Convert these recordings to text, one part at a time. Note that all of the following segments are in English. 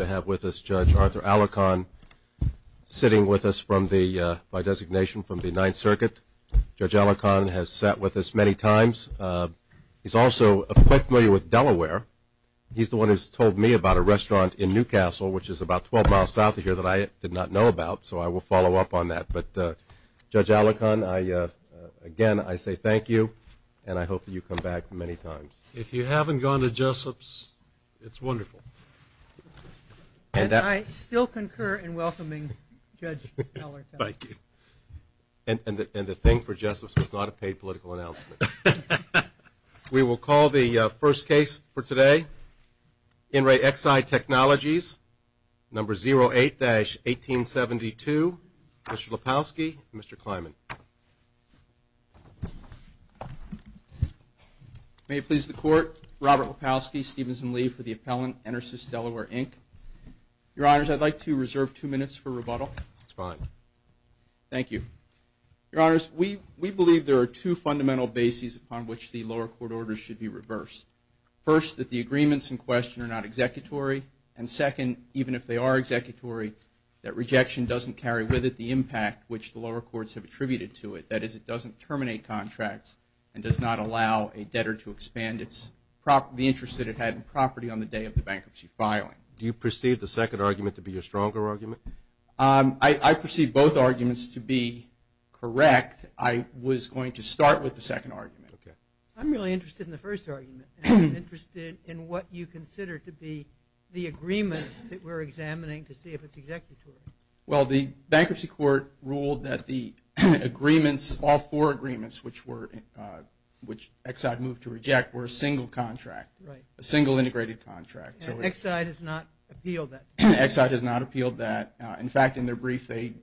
I have with us Judge Arthur Alarcon, sitting with us by designation from the Ninth Circuit. Judge Alarcon has sat with us many times. He's also quite familiar with Delaware. He's the one who's told me about a restaurant in Newcastle, which is about 12 miles south of here that I did not know about, so I will follow up on that. But Judge Alarcon, again, I say thank you, and I hope that you come back many times. If you haven't gone to Jessup's, it's wonderful. And I still concur in welcoming Judge Alarcon. Thank you. And the thing for Jessup's was not a paid political announcement. We will call the first case for today. In Re Exide Technologies, number 08-1872, Mr. Lepofsky and Mr. Klyman. May it please the Court, Robert Lepofsky, Stevenson Lee for the appellant, Enersys Delaware Inc. Your Honors, I'd like to reserve two minutes for rebuttal. That's fine. Thank you. Your Honors, we believe there are two fundamental bases upon which the lower court orders should be reversed. First, that the agreements in question are not executory. And second, even if they are executory, that rejection doesn't carry with it the impact which the lower courts have attributed to it. That is, it doesn't terminate contracts and does not allow a debtor to expand the interest that it had in property on the day of the bankruptcy filing. Do you perceive the second argument to be your stronger argument? I perceive both arguments to be correct. I was going to start with the second argument. I'm really interested in the first argument and interested in what you consider to be the agreement that we're examining to see if it's executory. Well the bankruptcy court ruled that the agreements, all four agreements, which Exide moved to reject were a single contract, a single integrated contract. Exide has not appealed that. In fact, in their brief, they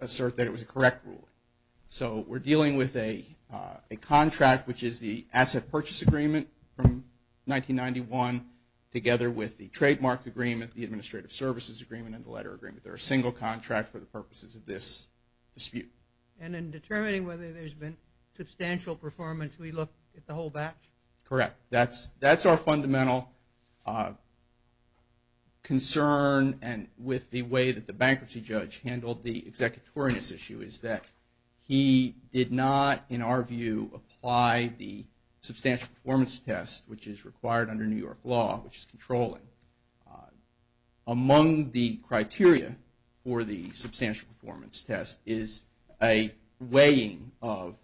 assert that it was a correct ruling. So we're dealing with a contract, which is the asset purchase agreement from 1991, together with the trademark agreement, the administrative services agreement, and the letter agreement. They're a single contract for the purposes of this dispute. And in determining whether there's been substantial performance, we look at the whole batch? Correct. That's our fundamental concern and with the way that the bankruptcy judge handled the executoriness issue is that he did not, in our view, apply the substantial performance test, which is required under New York law, which is controlling. Among the criteria for the substantial performance test is a weighing of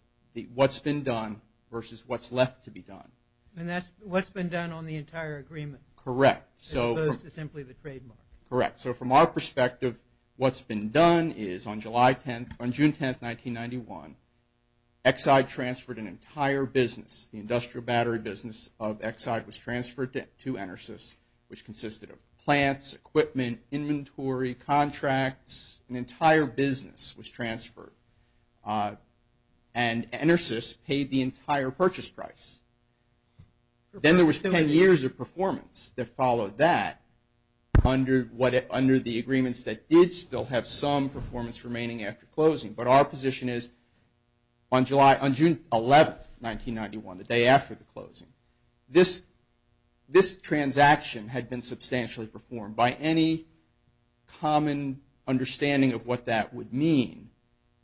what's been done versus what's left to be done. And that's what's been done on the entire agreement? Correct. As opposed to simply the trademark? Correct. So from our perspective, what's been done is on June 10, 1991, Exide transferred an entire business, the industrial battery business of Exide was transferred to Enersys, which consisted of plants, equipment, inventory, contracts, an entire business was transferred. And Enersys paid the entire purchase price. Then there was 10 years of performance that followed that under the agreements that did still have some performance remaining after closing. But our position is on June 11, 1991, the day after the closing, this transaction had been substantially performed. By any common understanding of what that would mean,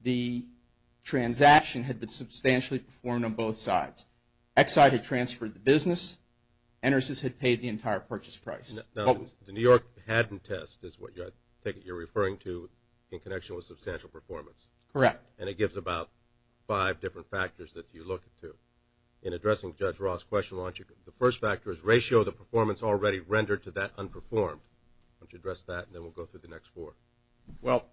the transaction had been substantially performed on both sides. Exide had transferred the business, Enersys had paid the entire purchase price. Now, the New York Haddon test is what you're referring to in connection with substantial performance. Correct. And it gives about five different factors that you look to. In addressing Judge Ross' question, the first factor is ratio of the performance already rendered to that unperformed. Why don't you address that, and then we'll go through the next four. Well,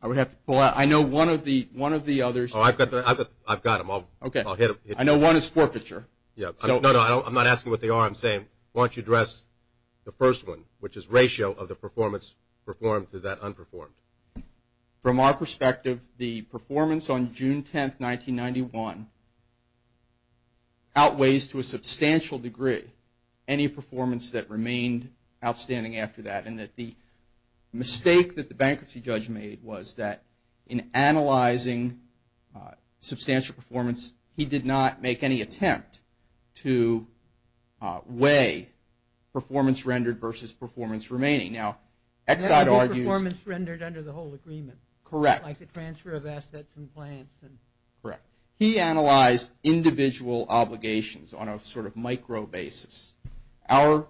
I would have to pull out – I know one of the others – Oh, I've got them. I've got them. I'll hit them. I know one is forfeiture. No, no. I'm not asking what they are. I'm saying why don't you address the first one, which is ratio of the performance performed to that unperformed. From our perspective, the performance on June 10, 1991, outweighs to a substantial degree any performance that remained outstanding after that, and that the mistake that the bankruptcy judge made was that in analyzing substantial performance, he did not make any attempt to weigh performance rendered versus performance remaining. Now, Exide argues – That would be performance rendered under the whole agreement. Correct. Like the transfer of assets and plants. Correct. He analyzed individual obligations on a sort of micro basis. Our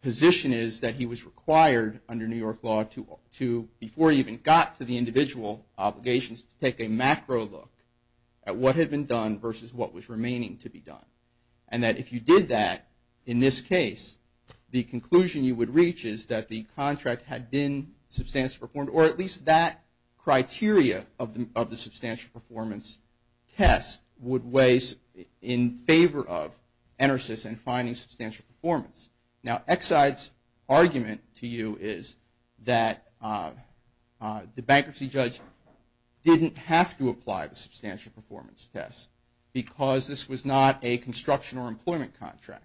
position is that he was required under New York law to, before he even got to the individual obligations, to take a macro look at what had been done versus what was remaining to be done, and that if you did that, in this case, the conclusion you would reach is that the contract had been substantially performed, or at least that criteria of the substantial performance test would weigh in favor of ENERSYS in finding substantial performance. Now Exide's argument to you is that the bankruptcy judge didn't have to apply the substantial performance test because this was not a construction or employment contract.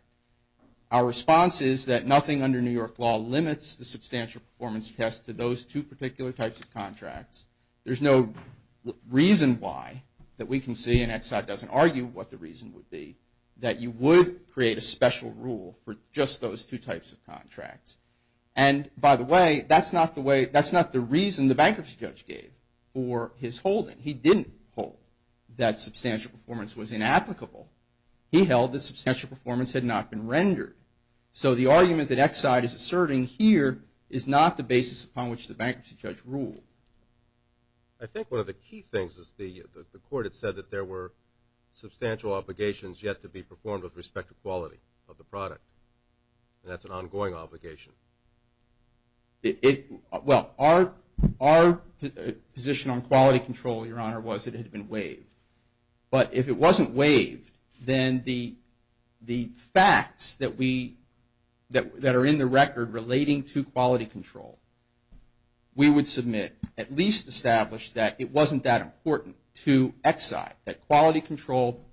Our response is that nothing under New York law limits the substantial performance test to those two particular types of contracts. There's no reason why that we can see, and Exide doesn't argue what the reason would be, that you would create a special rule for just those two types of contracts. And by the way, that's not the reason the bankruptcy judge gave for his holding. He didn't hold that substantial performance was inapplicable. He held that substantial performance had not been rendered. So the argument that Exide is asserting here is not the basis upon which the bankruptcy judge ruled. I think one of the key things is the court had said that there were substantial obligations yet to be performed with respect to quality of the product, and that's an ongoing obligation. Well our position on quality control, your honor, was it had been waived. But if it wasn't waived, then the facts that are in the record relating to quality control, we would submit, at least establish that it wasn't that important to Exide, that quality control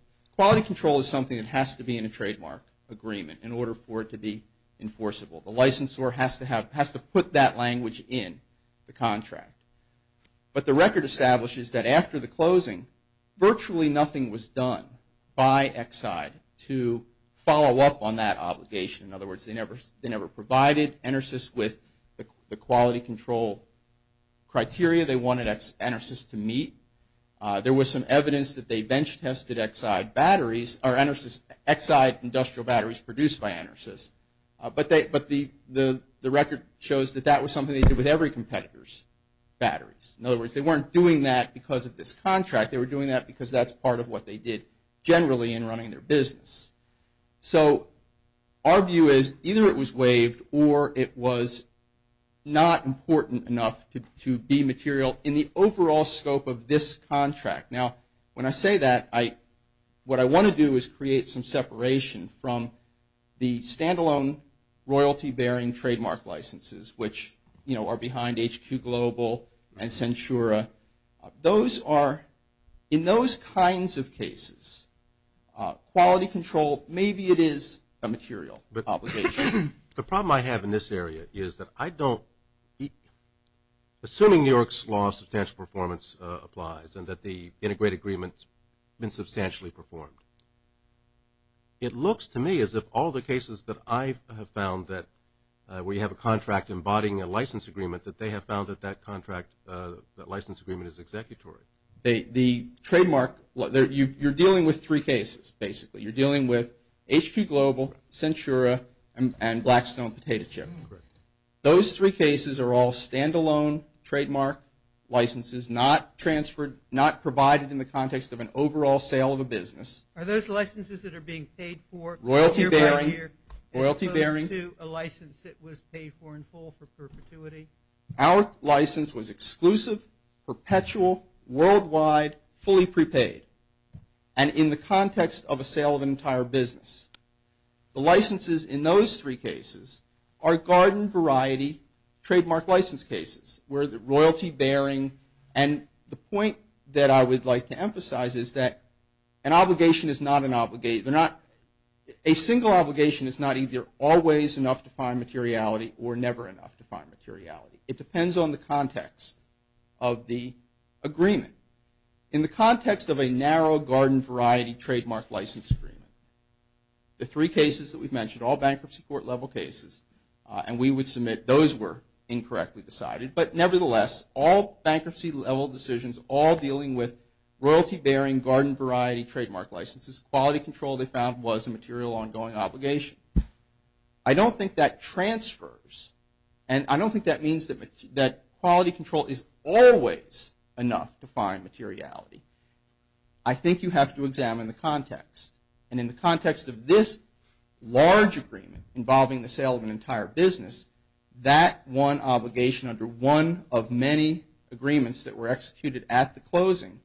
is something that has to be in a trademark agreement in order for it to be enforceable. The licensor has to put that language in the contract. But the record establishes that after the closing, virtually nothing was done by Exide to follow up on that obligation. In other words, they never provided Enersys with the quality control criteria they wanted Exide to meet. There was some evidence that they bench tested Exide batteries, or Exide industrial batteries produced by Enersys, but the record shows that that was something they did with every competitor's batteries. In other words, they weren't doing that because of this contract, they were doing that because that's part of what they did generally in running their business. So our view is either it was waived or it was not important enough to be material in the overall scope of this contract. Now when I say that, what I want to do is create some separation from the standalone royalty bearing trademark licenses, which are behind HQ Global and Centura. Those are, in those kinds of cases, quality control, maybe it is a material obligation. The problem I have in this area is that I don't, assuming New York's law of substantial performance applies and that the integrated agreement's been substantially performed, it looks to me as if all the cases that I have found that we have a contract embodying a license agreement, that they have found that that contract, that license agreement is executory. The trademark, you're dealing with three cases, basically. You're dealing with HQ Global, Centura, and Blackstone Potato Chip. Those three cases are all standalone trademark licenses, not transferred, not provided in the context of an overall sale of a business. Are those licenses that are being paid for? Royalty bearing. Royalty bearing. As opposed to a license that was paid for in full for perpetuity? Our license was exclusive, perpetual, worldwide, fully prepaid, and in the context of a sale of an entire business. The licenses in those three cases are garden variety trademark license cases, where the royalty bearing, and the point that I would like to emphasize is that an obligation is not an obligation, a single obligation is not either always enough to find materiality or never enough to find materiality. It depends on the context of the agreement. In the context of a narrow garden variety trademark license agreement, the three cases that we've mentioned, all bankruptcy court level cases, and we would submit those were incorrectly decided, but nevertheless, all bankruptcy level decisions, all dealing with quality control they found was a material ongoing obligation. I don't think that transfers, and I don't think that means that quality control is always enough to find materiality. I think you have to examine the context, and in the context of this large agreement involving the sale of an entire business, that one obligation under one of many agreements that were executed at the closing,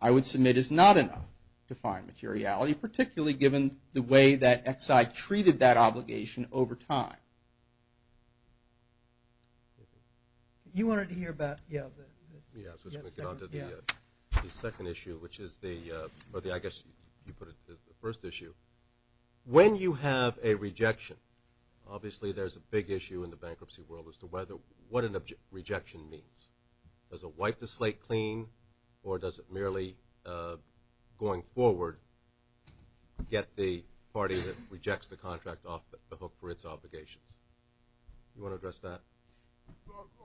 I would submit is not enough to find materiality, particularly given the way that Exide treated that obligation over time. You wanted to hear about, yeah, the second issue, which is the, or I guess you put it as the first issue. When you have a rejection, obviously there's a big issue in the bankruptcy world as to what a rejection means. Does it wipe the slate clean, or does it merely, going forward, get the party that rejects the contract off the hook for its obligations? You want to address that?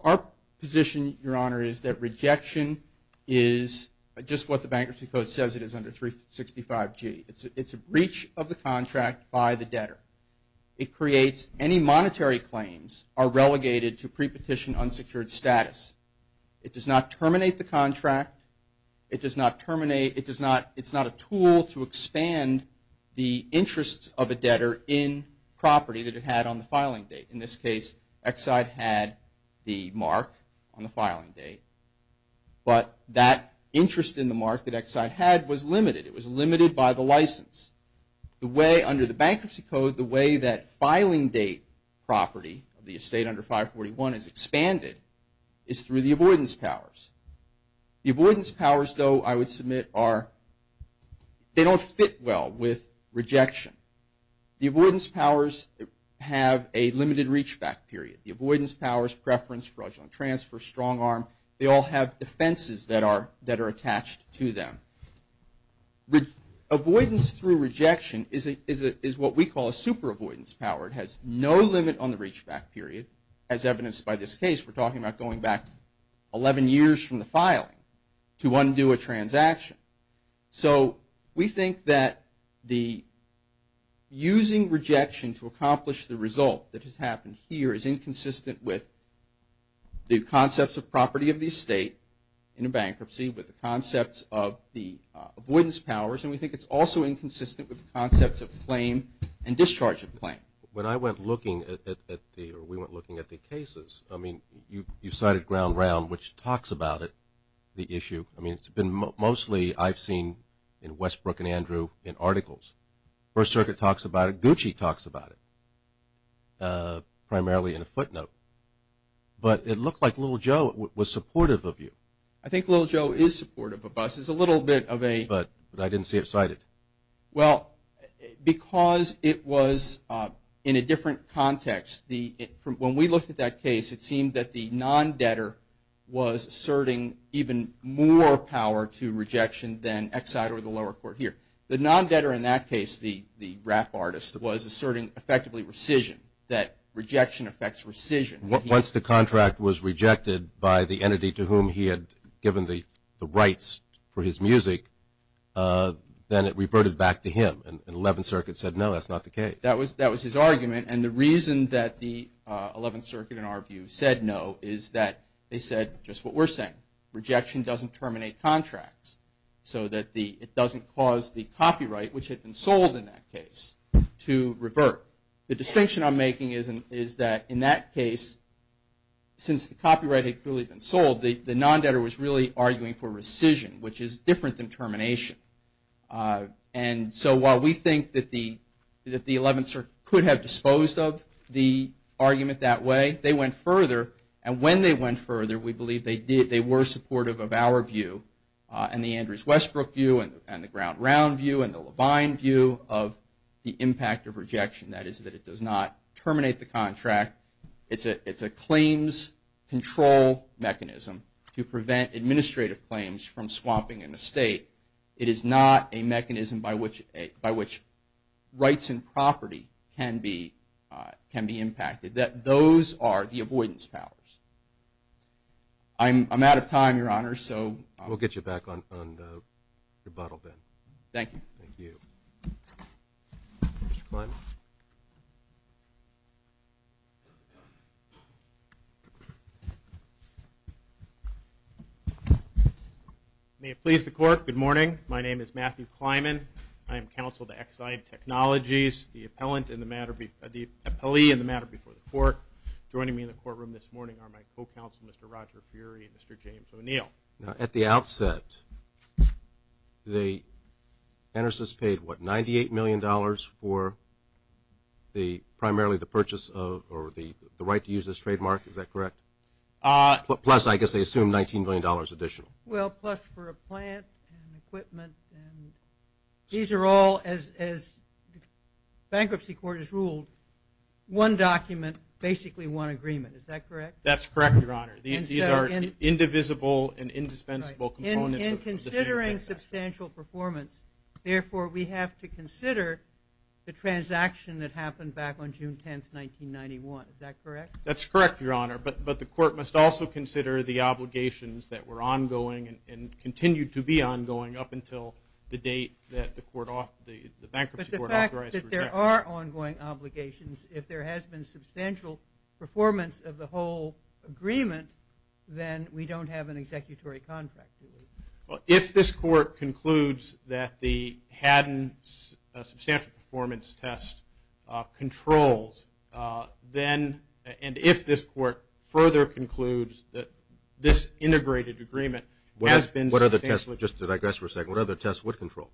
Our position, Your Honor, is that rejection is just what the bankruptcy code says it is under 365G. It's a breach of the contract by the debtor. It creates any monetary claims are relegated to pre-petition unsecured status. It does not terminate the contract. It does not terminate, it's not a tool to expand the interests of a debtor in property that it had on the filing date. In this case, Exide had the mark on the filing date, but that interest in the mark that Exide had was limited. It was limited by the license. Under the bankruptcy code, the way that filing date property of the estate under 541 is expanded is through the avoidance powers. The avoidance powers, though, I would submit are, they don't fit well with rejection. The avoidance powers have a limited reachback period. The avoidance powers, preference, fraudulent transfer, strong arm, they all have defenses that are attached to them. Avoidance through rejection is what we call a super avoidance power. It has no limit on the reachback period. As evidenced by this case, we're talking about going back 11 years from the filing to undo a transaction. So we think that the using rejection to accomplish the result that has happened here is inconsistent with the concepts of property of the estate in a bankruptcy, with the concepts of the avoidance powers, and we think it's also inconsistent with the concepts of claim and discharge of claim. When I went looking at the, or we went looking at the cases, I mean, you cited Ground Round, which talks about it, the issue. I mean, it's been mostly, I've seen in Westbrook and Andrew in articles. First Circuit talks about it. Primarily in a footnote. But it looked like Little Joe was supportive of you. I think Little Joe is supportive of us. It's a little bit of a... But I didn't see it cited. Well, because it was in a different context. When we looked at that case, it seemed that the non-debtor was asserting even more power to rejection than Exide or the lower court here. The non-debtor in that case, the rap artist, was asserting effectively rescission, that rejection affects rescission. Once the contract was rejected by the entity to whom he had given the rights for his music, then it reverted back to him. And Eleventh Circuit said, no, that's not the case. That was his argument. And the reason that the Eleventh Circuit, in our view, said no is that they said just what we're saying. Rejection doesn't terminate contracts so that it doesn't cause the copyright, which had been sold in that case, to revert. The distinction I'm making is that in that case, since the copyright had clearly been sold, the non-debtor was really arguing for rescission, which is different than termination. And so while we think that the Eleventh Circuit could have disposed of the argument that way, they went further. And when they went further, we believe they were supportive of our view and the Andrews-Westbrook view and the Ground Round view and the Levine view of the impact of rejection, that is that it does not terminate the contract. It's a claims control mechanism to prevent administrative claims from swapping an estate. It is not a mechanism by which rights and property can be impacted. Those are the avoidance powers. I'm out of time, Your Honor, so. We'll get you back on rebuttal, Ben. Thank you. Thank you. Mr. Klyman. May it please the Court, good morning. My name is Matthew Klyman. I am counsel to Exide Technologies, the appellee in the matter before the Court. Joining me in the courtroom this morning are my co-counsel, Mr. Roger Furey and Mr. James O'Neill. Now, at the outset, the Entersys paid, what, $98 million for primarily the purchase of or the right to use this trademark, is that correct? Plus, I guess they assumed $19 million additional. Well, plus for a plant and equipment. These are all, as bankruptcy court has ruled, one document, basically one agreement. Is that correct? That's correct, Your Honor. These are indivisible and indispensable components. In considering substantial performance, therefore, we have to consider the transaction that happened back on June 10, 1991. Is that correct? That's correct, Your Honor. But the Court must also consider the obligations that were ongoing and continue to be ongoing up until the date that the bankruptcy court authorized the rejection. But the fact that there are ongoing obligations, if there has been substantial performance of the whole agreement, then we don't have an executory contract. If this Court concludes that the Haddon substantial performance test controls, then and if this Court further concludes that this integrated agreement has been substantially What other tests, just to digress for a second, what other tests would control,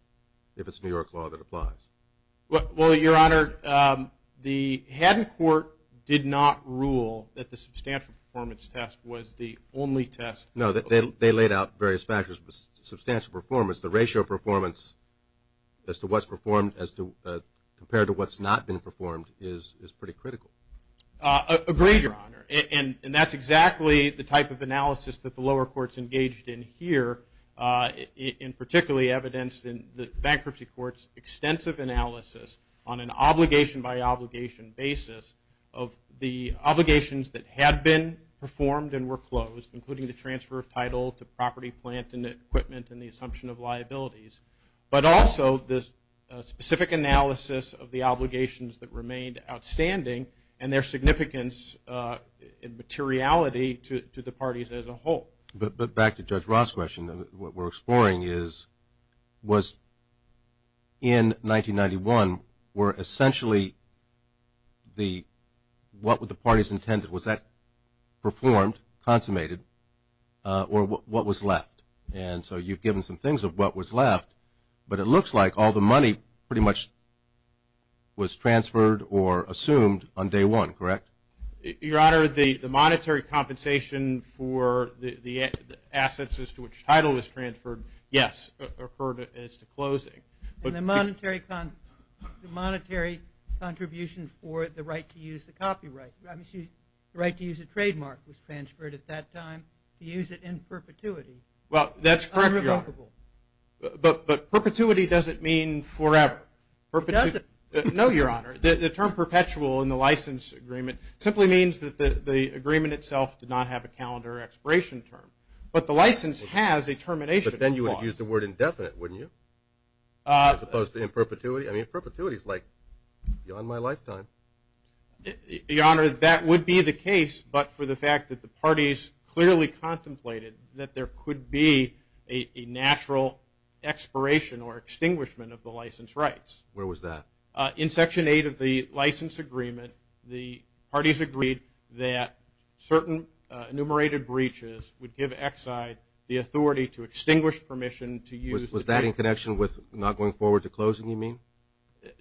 if it's New York law that applies? Well, Your Honor, the Haddon Court did not rule that the substantial performance test was the only test. No, they laid out various factors. Substantial performance, the ratio of performance as to what's performed compared to what's not been performed is pretty critical. Agreed, Your Honor. And that's exactly the type of analysis that the lower courts engaged in here and particularly evidenced in the bankruptcy court's extensive analysis on an obligation by obligation basis of the obligations that had been performed and were closed, including the transfer of title to property plant and equipment and the assumption of liabilities. But also this specific analysis of the obligations that remained outstanding and their significance and materiality to the parties as a whole. But back to Judge Ross' question, what we're exploring is, was in 1991 were essentially the, what were the parties intended? Was that performed, consummated, or what was left? And so you've given some things of what was left, but it looks like all the money pretty much was transferred or assumed on day one, correct? Your Honor, the monetary compensation for the assets as to which title was transferred, yes, referred as to closing. And the monetary contribution for the right to use the copyright, the right to use a trademark was transferred at that time to use it in perpetuity. Well, that's correct, Your Honor. Unremarkable. But perpetuity doesn't mean forever. It doesn't. No, Your Honor. The term perpetual in the license agreement simply means that the agreement itself did not have a calendar expiration term. But the license has a termination clause. But then you would have used the word indefinite, wouldn't you, as opposed to in perpetuity? I mean, perpetuity is like beyond my lifetime. Your Honor, that would be the case, but for the fact that the parties clearly contemplated that there could be a natural expiration or extinguishment of the license rights. Where was that? In Section 8 of the license agreement, the parties agreed that certain enumerated breaches would give Exide the authority to extinguish permission to use the copyright. Was that in connection with not going forward to closing, you mean?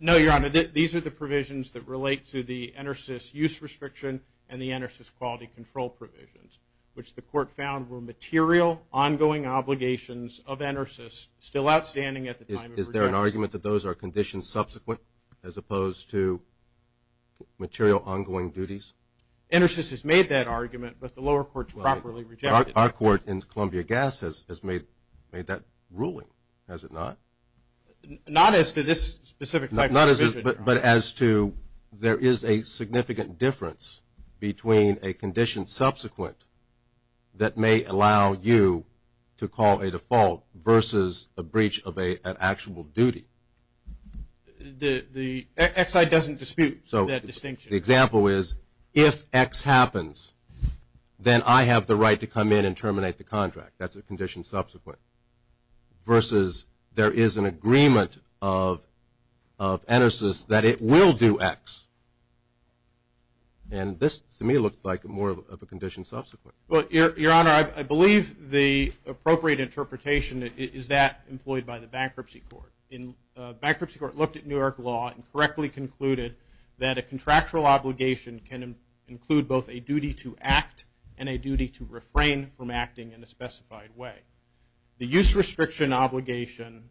No, Your Honor. These are the provisions that relate to the ENERSYS use restriction and the ENERSYS quality control provisions, which the court found were material ongoing obligations of ENERSYS, still outstanding at the time of rejection. Is there an argument that those are conditions subsequent as opposed to material ongoing duties? ENERSYS has made that argument, but the lower courts properly rejected it. Our court in Columbia Gas has made that ruling, has it not? Not as to this specific type of provision. But as to there is a significant difference between a condition subsequent that may allow you to call a default versus a breach of an actual duty. Exide doesn't dispute that distinction. The example is if X happens, then I have the right to come in and terminate the contract. That's a condition subsequent versus there is an agreement of ENERSYS that it will do X. And this, to me, looked like more of a condition subsequent. Well, Your Honor, I believe the appropriate interpretation is that employed by the bankruptcy court. Bankruptcy court looked at New York law and correctly concluded that a contractual obligation can include both a duty to act and a duty to refrain from acting in a specified way. The use restriction obligation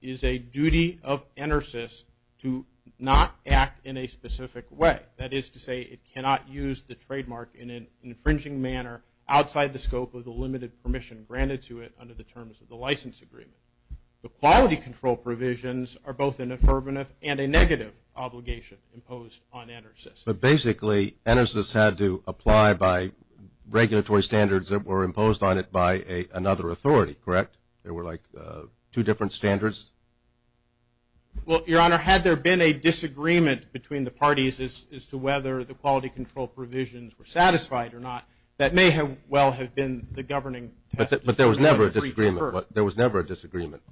is a duty of ENERSYS to not act in a specific way. That is to say it cannot use the trademark in an infringing manner outside the scope of the limited permission granted to it under the terms of the license agreement. The quality control provisions are both an affirmative and a negative obligation imposed on ENERSYS. But basically ENERSYS had to apply by regulatory standards that were imposed on it by another authority, correct? There were like two different standards? Well, Your Honor, had there been a disagreement between the parties as to whether the quality control provisions were satisfied or not, that may well have been the governing test. But there was never a disagreement. There was never a disagreement.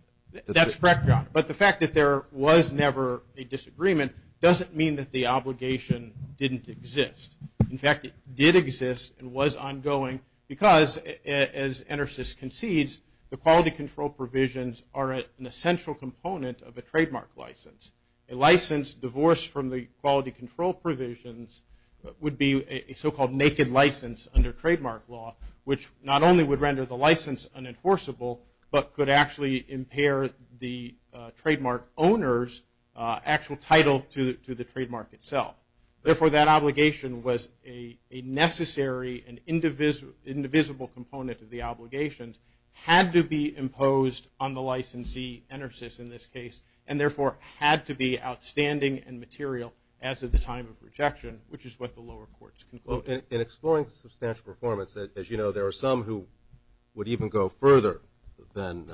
That's correct, Your Honor. But the fact that there was never a disagreement doesn't mean that the obligation didn't exist. In fact, it did exist and was ongoing because, as ENERSYS concedes, the quality control provisions are an essential component of a trademark license. A license divorced from the quality control provisions would be a so-called naked license under trademark law, which not only would render the license unenforceable but could actually impair the trademark owner's actual title to the trademark itself. Therefore, that obligation was a necessary and indivisible component of the obligations had to be imposed on the licensee, ENERSYS in this case, and therefore had to be outstanding and material as of the time of rejection, which is what the lower courts concluded. In exploring the substantial performance, as you know, there are some who would even go further than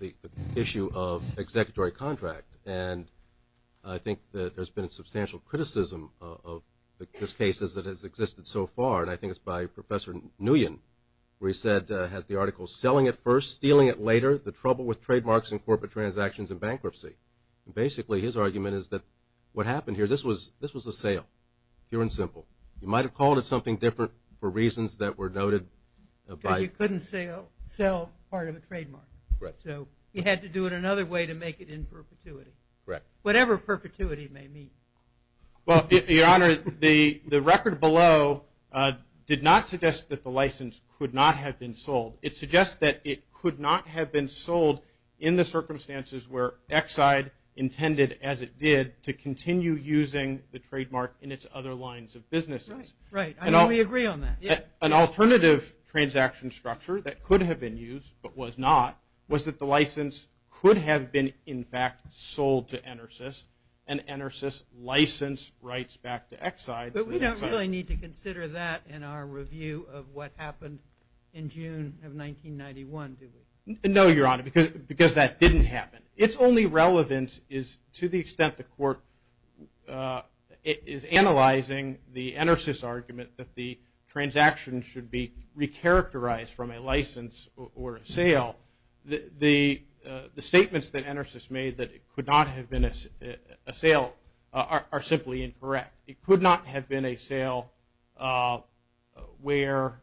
the issue of executory contract. And I think that there's been substantial criticism of these cases that has existed so far, and I think it's by Professor Nguyen where he said, has the article selling at first, stealing it later, the trouble with trademarks and corporate transactions and bankruptcy. Basically, his argument is that what happened here, this was a sale, pure and simple. You might have called it something different for reasons that were noted. Because you couldn't sell part of a trademark. So you had to do it another way to make it in perpetuity. Correct. Whatever perpetuity may mean. Well, Your Honor, the record below did not suggest that the license could not have been sold. It suggests that it could not have been sold in the circumstances where Exide intended, as it did, to continue using the trademark in its other lines of businesses. Right. I mean, we agree on that. An alternative transaction structure that could have been used, but was not, was that the license could have been, in fact, sold to Enersys, and Enersys licensed rights back to Exide. But we don't really need to consider that in our review of what happened in June of 1991, do we? No, Your Honor, because that didn't happen. Its only relevance is to the extent the court is analyzing the Enersys argument that the transaction should be recharacterized from a license or a sale. The statements that Enersys made that it could not have been a sale are simply incorrect. It could not have been a sale where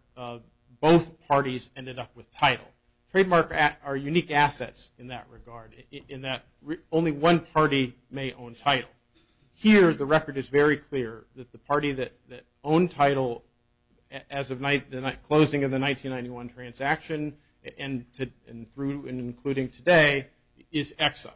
both parties ended up with title. Trademark are unique assets in that regard, in that only one party may own title. Here, the record is very clear that the party that owned title as of closing of the 1991 transaction and through and including today is Exide.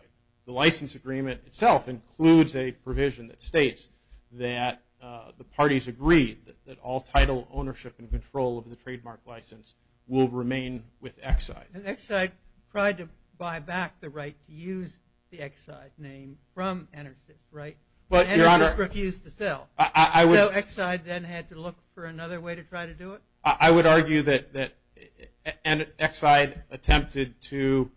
The license agreement itself includes a provision that states that the parties agreed that all title ownership and control of the trademark license will remain with Exide. And Exide tried to buy back the right to use the Exide name from Enersys, right? But, Your Honor, Enersys refused to sell. I would So Exide then had to look for another way to try to do it? I would argue that Exide attempted to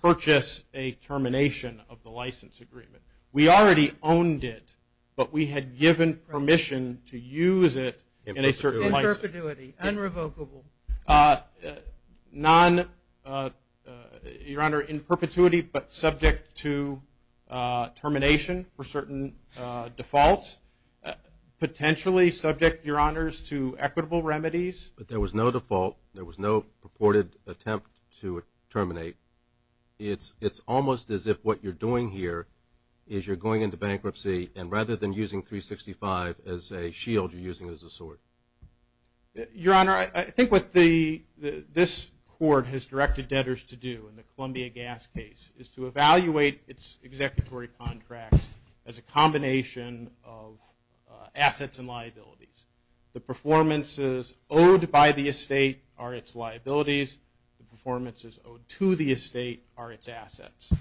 purchase a termination of the license agreement. We already owned it, but we had given permission to use it in a certain license. In perpetuity. Unrevocable. Your Honor, in perpetuity, but subject to termination for certain defaults. Potentially subject, Your Honors, to equitable remedies. But there was no default. There was no purported attempt to terminate. It's almost as if what you're doing here is you're going into bankruptcy and rather than using 365 as a shield, you're using it as a sword. Your Honor, I think what this court has directed debtors to do in the Columbia Gas case is to evaluate its executory contracts as a combination of assets and liabilities. The performances owed by the estate are its liabilities. The performances owed to the estate are its assets.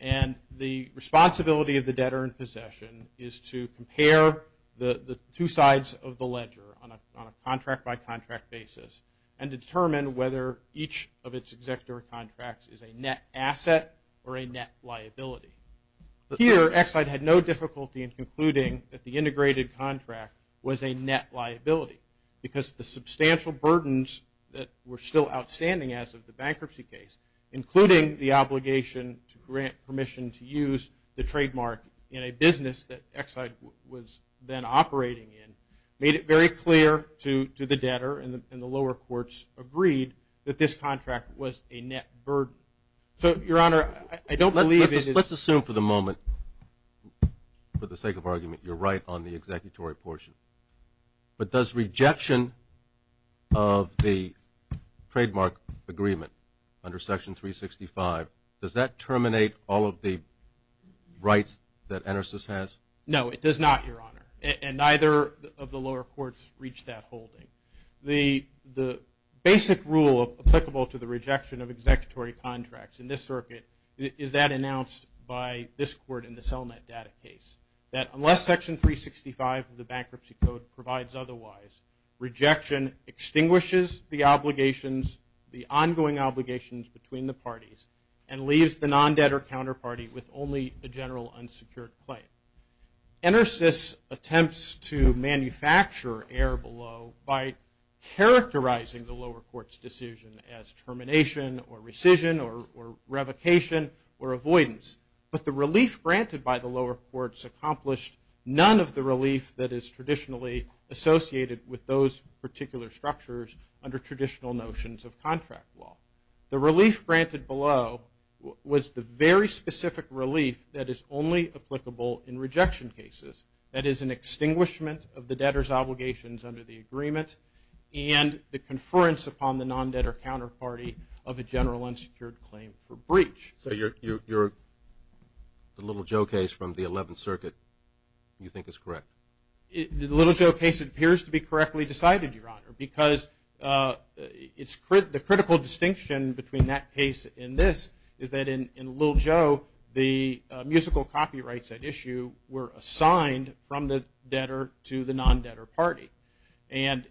And the responsibility of the debtor in possession is to compare the two sides of the ledger on a contract-by-contract basis and determine whether each of its executive contracts is a net asset or a net liability. Here, Exide had no difficulty in concluding that the integrated contract was a net liability because the substantial burdens that were still outstanding as of the bankruptcy case, including the obligation to grant permission to use the trademark in a business that Exide was then operating in, made it very clear to the debtor and the lower courts agreed that this contract was a net burden. So, Your Honor, I don't believe it is. Let's assume for the moment, for the sake of argument, you're right on the executory portion. But does rejection of the trademark agreement under Section 365, does that terminate all of the rights that Enersys has? No, it does not, Your Honor. And neither of the lower courts reached that holding. The basic rule applicable to the rejection of executory contracts in this circuit is that announced by this court in the CellNet data case, that unless Section 365 of the Bankruptcy Code provides otherwise, rejection extinguishes the obligations, the ongoing obligations between the parties, and leaves the non-debtor counterparty with only a general unsecured claim. Enersys attempts to manufacture error below by characterizing the lower court's decision as termination or rescission or revocation or avoidance. But the relief granted by the lower courts accomplished none of the relief that is traditionally associated with those particular structures under traditional notions of contract law. The relief granted below was the very specific relief that is only applicable in rejection cases, that is an extinguishment of the debtor's obligations under the agreement and the conference upon the non-debtor counterparty of a general unsecured claim for breach. So your Little Joe case from the 11th Circuit you think is correct? The Little Joe case appears to be correctly decided, Your Honor, because the critical distinction between that case and this is that in Little Joe, the musical copyrights at issue were assigned from the debtor to the non-debtor party. And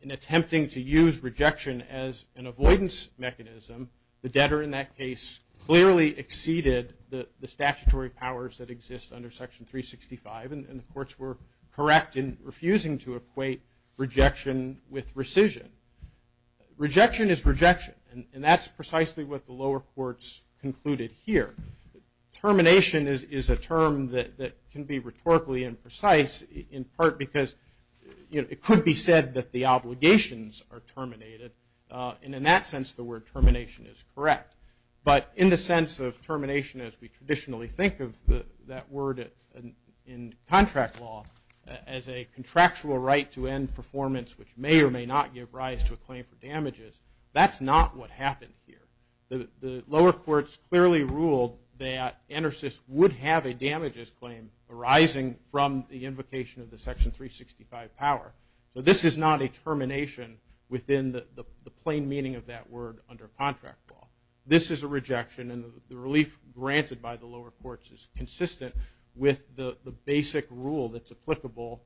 in attempting to use rejection as an avoidance mechanism, the debtor in that case clearly exceeded the statutory powers that exist under Section 365, and the courts were correct in refusing to equate rejection with rescission. Rejection is rejection, and that's precisely what the lower courts concluded here. Termination is a term that can be rhetorically imprecise, in part because it could be said that the obligations are terminated. And in that sense, the word termination is correct. But in the sense of termination as we traditionally think of that word in contract law as a contractual right to end performance which may or may not give rise to a claim for damages, that's not what happened here. The lower courts clearly ruled that ENERSYS would have a damages claim arising from the invocation of the Section 365 power. So this is not a termination within the plain meaning of that word under contract law. This is a rejection, and the relief granted by the lower courts is consistent with the basic rule that's applicable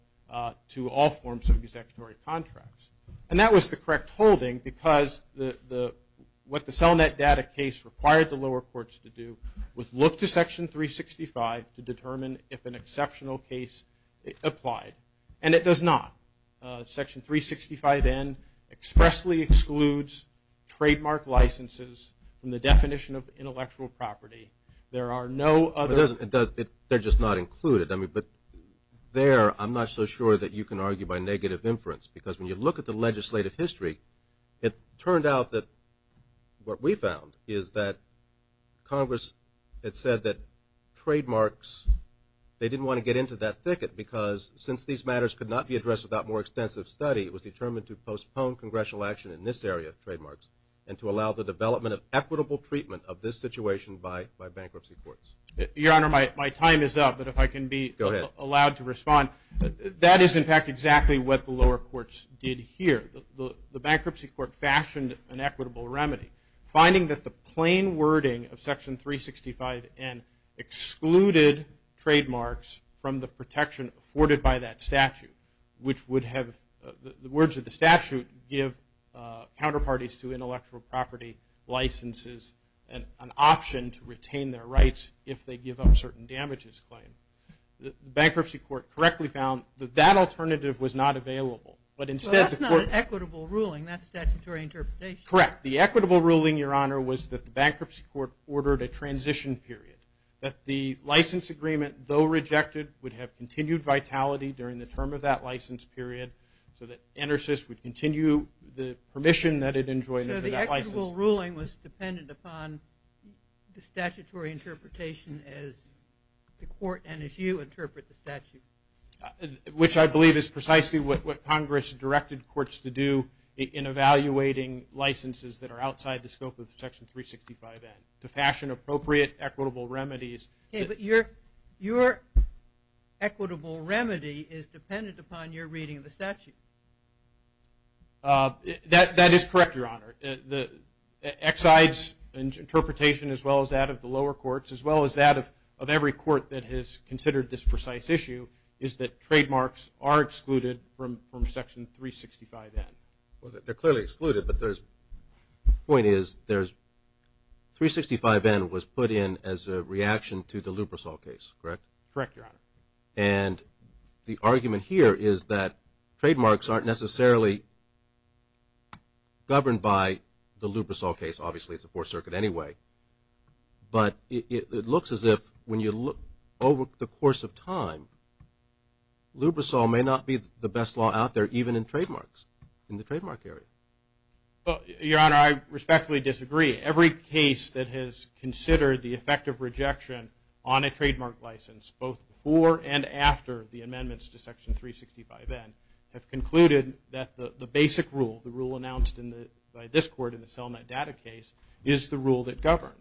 to all forms of executory contracts. And that was the correct holding because what the CellNet data case required the lower courts to do was look to Section 365 to determine if an exceptional case applied. And it does not. Section 365N expressly excludes trademark licenses from the definition of intellectual property. There are no other... They're just not included. I mean, but there I'm not so sure that you can argue by negative inference because when you look at the legislative history, it turned out that what we found is that Congress had said that trademarks, they didn't want to get into that thicket because since these matters could not be addressed without more extensive study, it was determined to postpone congressional action in this area, trademarks, and to allow the development of equitable treatment of this situation by bankruptcy courts. Your Honor, my time is up, but if I can be allowed to respond. Go ahead. That is, in fact, exactly what the lower courts did here. The bankruptcy court fashioned an equitable remedy. Finding that the plain wording of Section 365N excluded trademarks from the protection afforded by that statute, which would have the words of the statute give counterparties to intellectual property licenses an option to retain their rights if they give up certain damages claim. The bankruptcy court correctly found that that alternative was not available. But instead the court... Well, that's not an equitable ruling. That's statutory interpretation. Correct. The equitable ruling, Your Honor, was that the bankruptcy court ordered a transition period. That the license agreement, though rejected, would have continued vitality during the term of that license period so that ENERSYS would continue the permission that it enjoined under that license. So the equitable ruling was dependent upon the statutory interpretation as the court and as you interpret the statute. Which I believe is precisely what Congress directed courts to do in evaluating licenses that are outside the scope of Section 365N, to fashion appropriate equitable remedies. Okay, but your equitable remedy is dependent upon your reading of the statute. That is correct, Your Honor. Exide's interpretation as well as that of the lower courts, as well as that of every court that has considered this precise issue, is that trademarks are excluded from Section 365N. Well, they're clearly excluded, but the point is 365N was put in as a reaction to the Lubrosol case, correct? Correct, Your Honor. And the argument here is that trademarks aren't necessarily governed by the Lubrosol case. Obviously, it's the Fourth Circuit anyway. But it looks as if when you look over the course of time, Lubrosol may not be the best law out there even in trademarks, in the trademark area. Well, Your Honor, I respectfully disagree. Every case that has considered the effect of rejection on a trademark license, both before and after the amendments to Section 365N, have concluded that the basic rule, the rule announced by this court in the Selmet data case, is the rule that governs.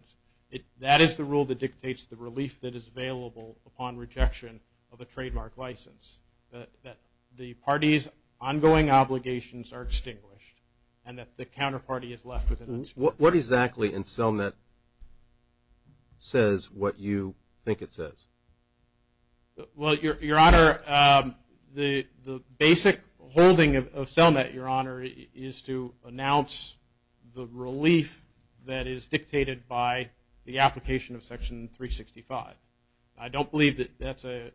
That is the rule that dictates the relief that is available upon rejection of a trademark license, that the party's ongoing obligations are extinguished and that the counterparty is left with an excuse. What exactly in Selmet says what you think it says? Well, Your Honor, the basic holding of Selmet, Your Honor, is to announce the relief that is dictated by the application of Section 365. I don't believe that that's a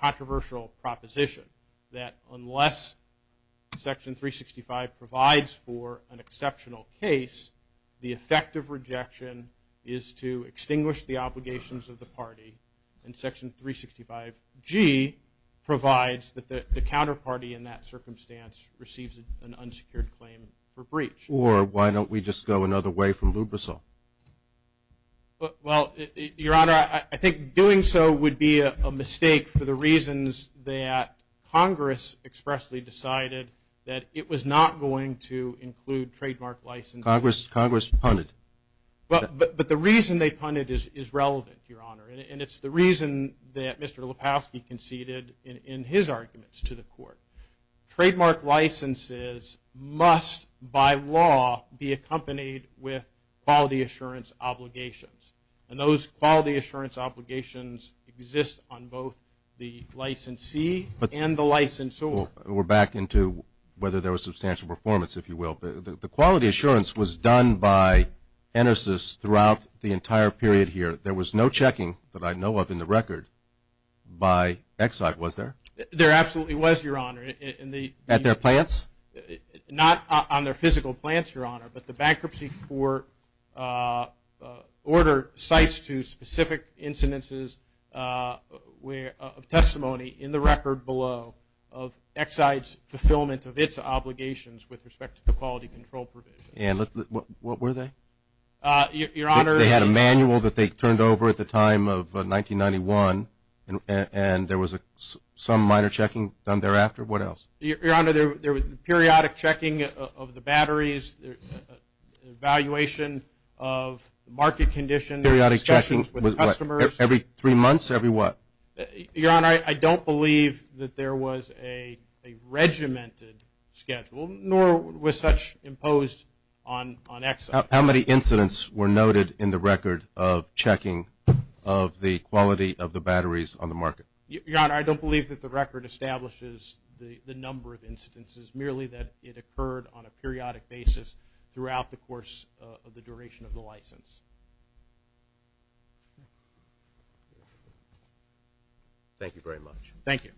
controversial proposition, that unless Section 365 provides for an exceptional case, the effect of rejection is to extinguish the obligations of the party and Section 365G provides that the counterparty in that circumstance receives an unsecured claim for breach. Or why don't we just go another way from Lubrisol? Well, Your Honor, I think doing so would be a mistake for the reasons that Congress expressly decided that it was not going to include trademark licenses. Congress punted. But the reason they punted is relevant, Your Honor, and it's the reason that Mr. Lepofsky conceded in his arguments to the court. Trademark licenses must, by law, be accompanied with quality assurance obligations. And those quality assurance obligations exist on both the licensee and the licensor. We're back into whether there was substantial performance, if you will. The quality assurance was done by ENERSYS throughout the entire period here. There was no checking that I know of in the record by Exide, was there? There absolutely was, Your Honor. At their plants? Not on their physical plants, Your Honor, but the bankruptcy court ordered cites to specific incidences of testimony in the record below of Exide's fulfillment of its obligations with respect to the quality control provisions. And what were they? Your Honor, They had a manual that they turned over at the time of 1991, and there was some minor checking done thereafter. What else? Your Honor, there was periodic checking of the batteries, evaluation of market conditions, discussions with the customers. Periodic checking every three months, every what? Your Honor, I don't believe that there was a regimented schedule, nor was such imposed on Exide. How many incidents were noted in the record of checking of the quality of the batteries on the market? Your Honor, I don't believe that the record establishes the number of incidences, merely that it occurred on a periodic basis throughout the course of the duration of the license. Thank you very much. Thank you.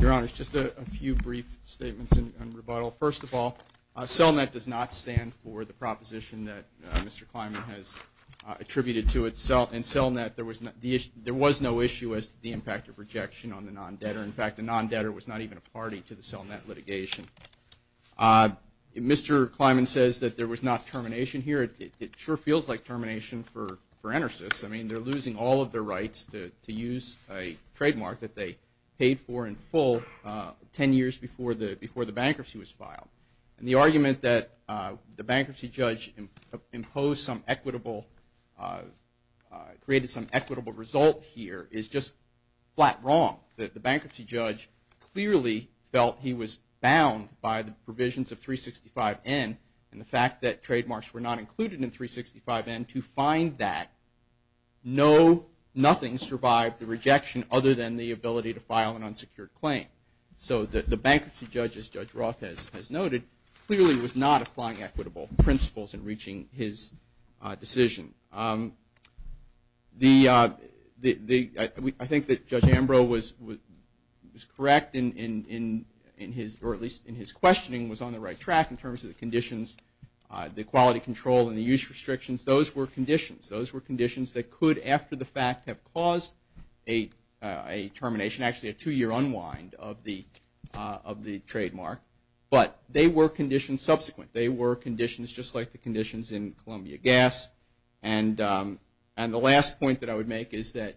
Your Honor, just a few brief statements in rebuttal. First of all, CELNET does not stand for the proposition that Mr. Kleiman has attributed to it. In CELNET, there was no issue as to the impact of rejection on the non-debtor. In fact, the non-debtor was not even a party to the CELNET litigation. Mr. Kleiman says that there was not termination here. It sure feels like termination for ENERSYS. I mean, they're losing all of their rights to use a trademark that they paid for in full 10 years before the bankruptcy was filed. And the argument that the bankruptcy judge created some equitable result here is just flat wrong. The bankruptcy judge clearly felt he was bound by the provisions of 365N and the fact that trademarks were not included in 365N. To find that, nothing survived the rejection other than the ability to file an unsecured claim. So the bankruptcy judge, as Judge Roth has noted, clearly was not applying equitable principles in reaching his decision. I think that Judge Ambrose was correct in his, or at least in his questioning, was on the right track in terms of the conditions, the quality control, and the use restrictions. Those were conditions. They could, after the fact, have caused a termination, actually a two-year unwind of the trademark. But they were conditions subsequent. They were conditions just like the conditions in Columbia Gas. And the last point that I would make is that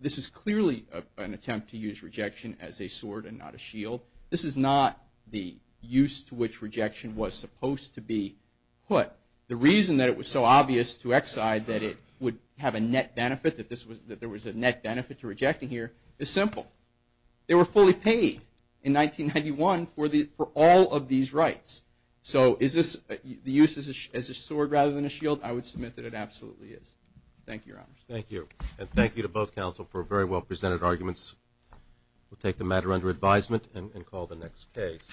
this is clearly an attempt to use rejection as a sword and not a shield. This is not the use to which rejection was supposed to be put. But the reason that it was so obvious to Exide that it would have a net benefit, that there was a net benefit to rejecting here, is simple. They were fully paid in 1991 for all of these rights. So is this the use as a sword rather than a shield? I would submit that it absolutely is. Thank you, Your Honors. Thank you. And thank you to both counsel for very well presented arguments. We'll take the matter under advisement and call the next case.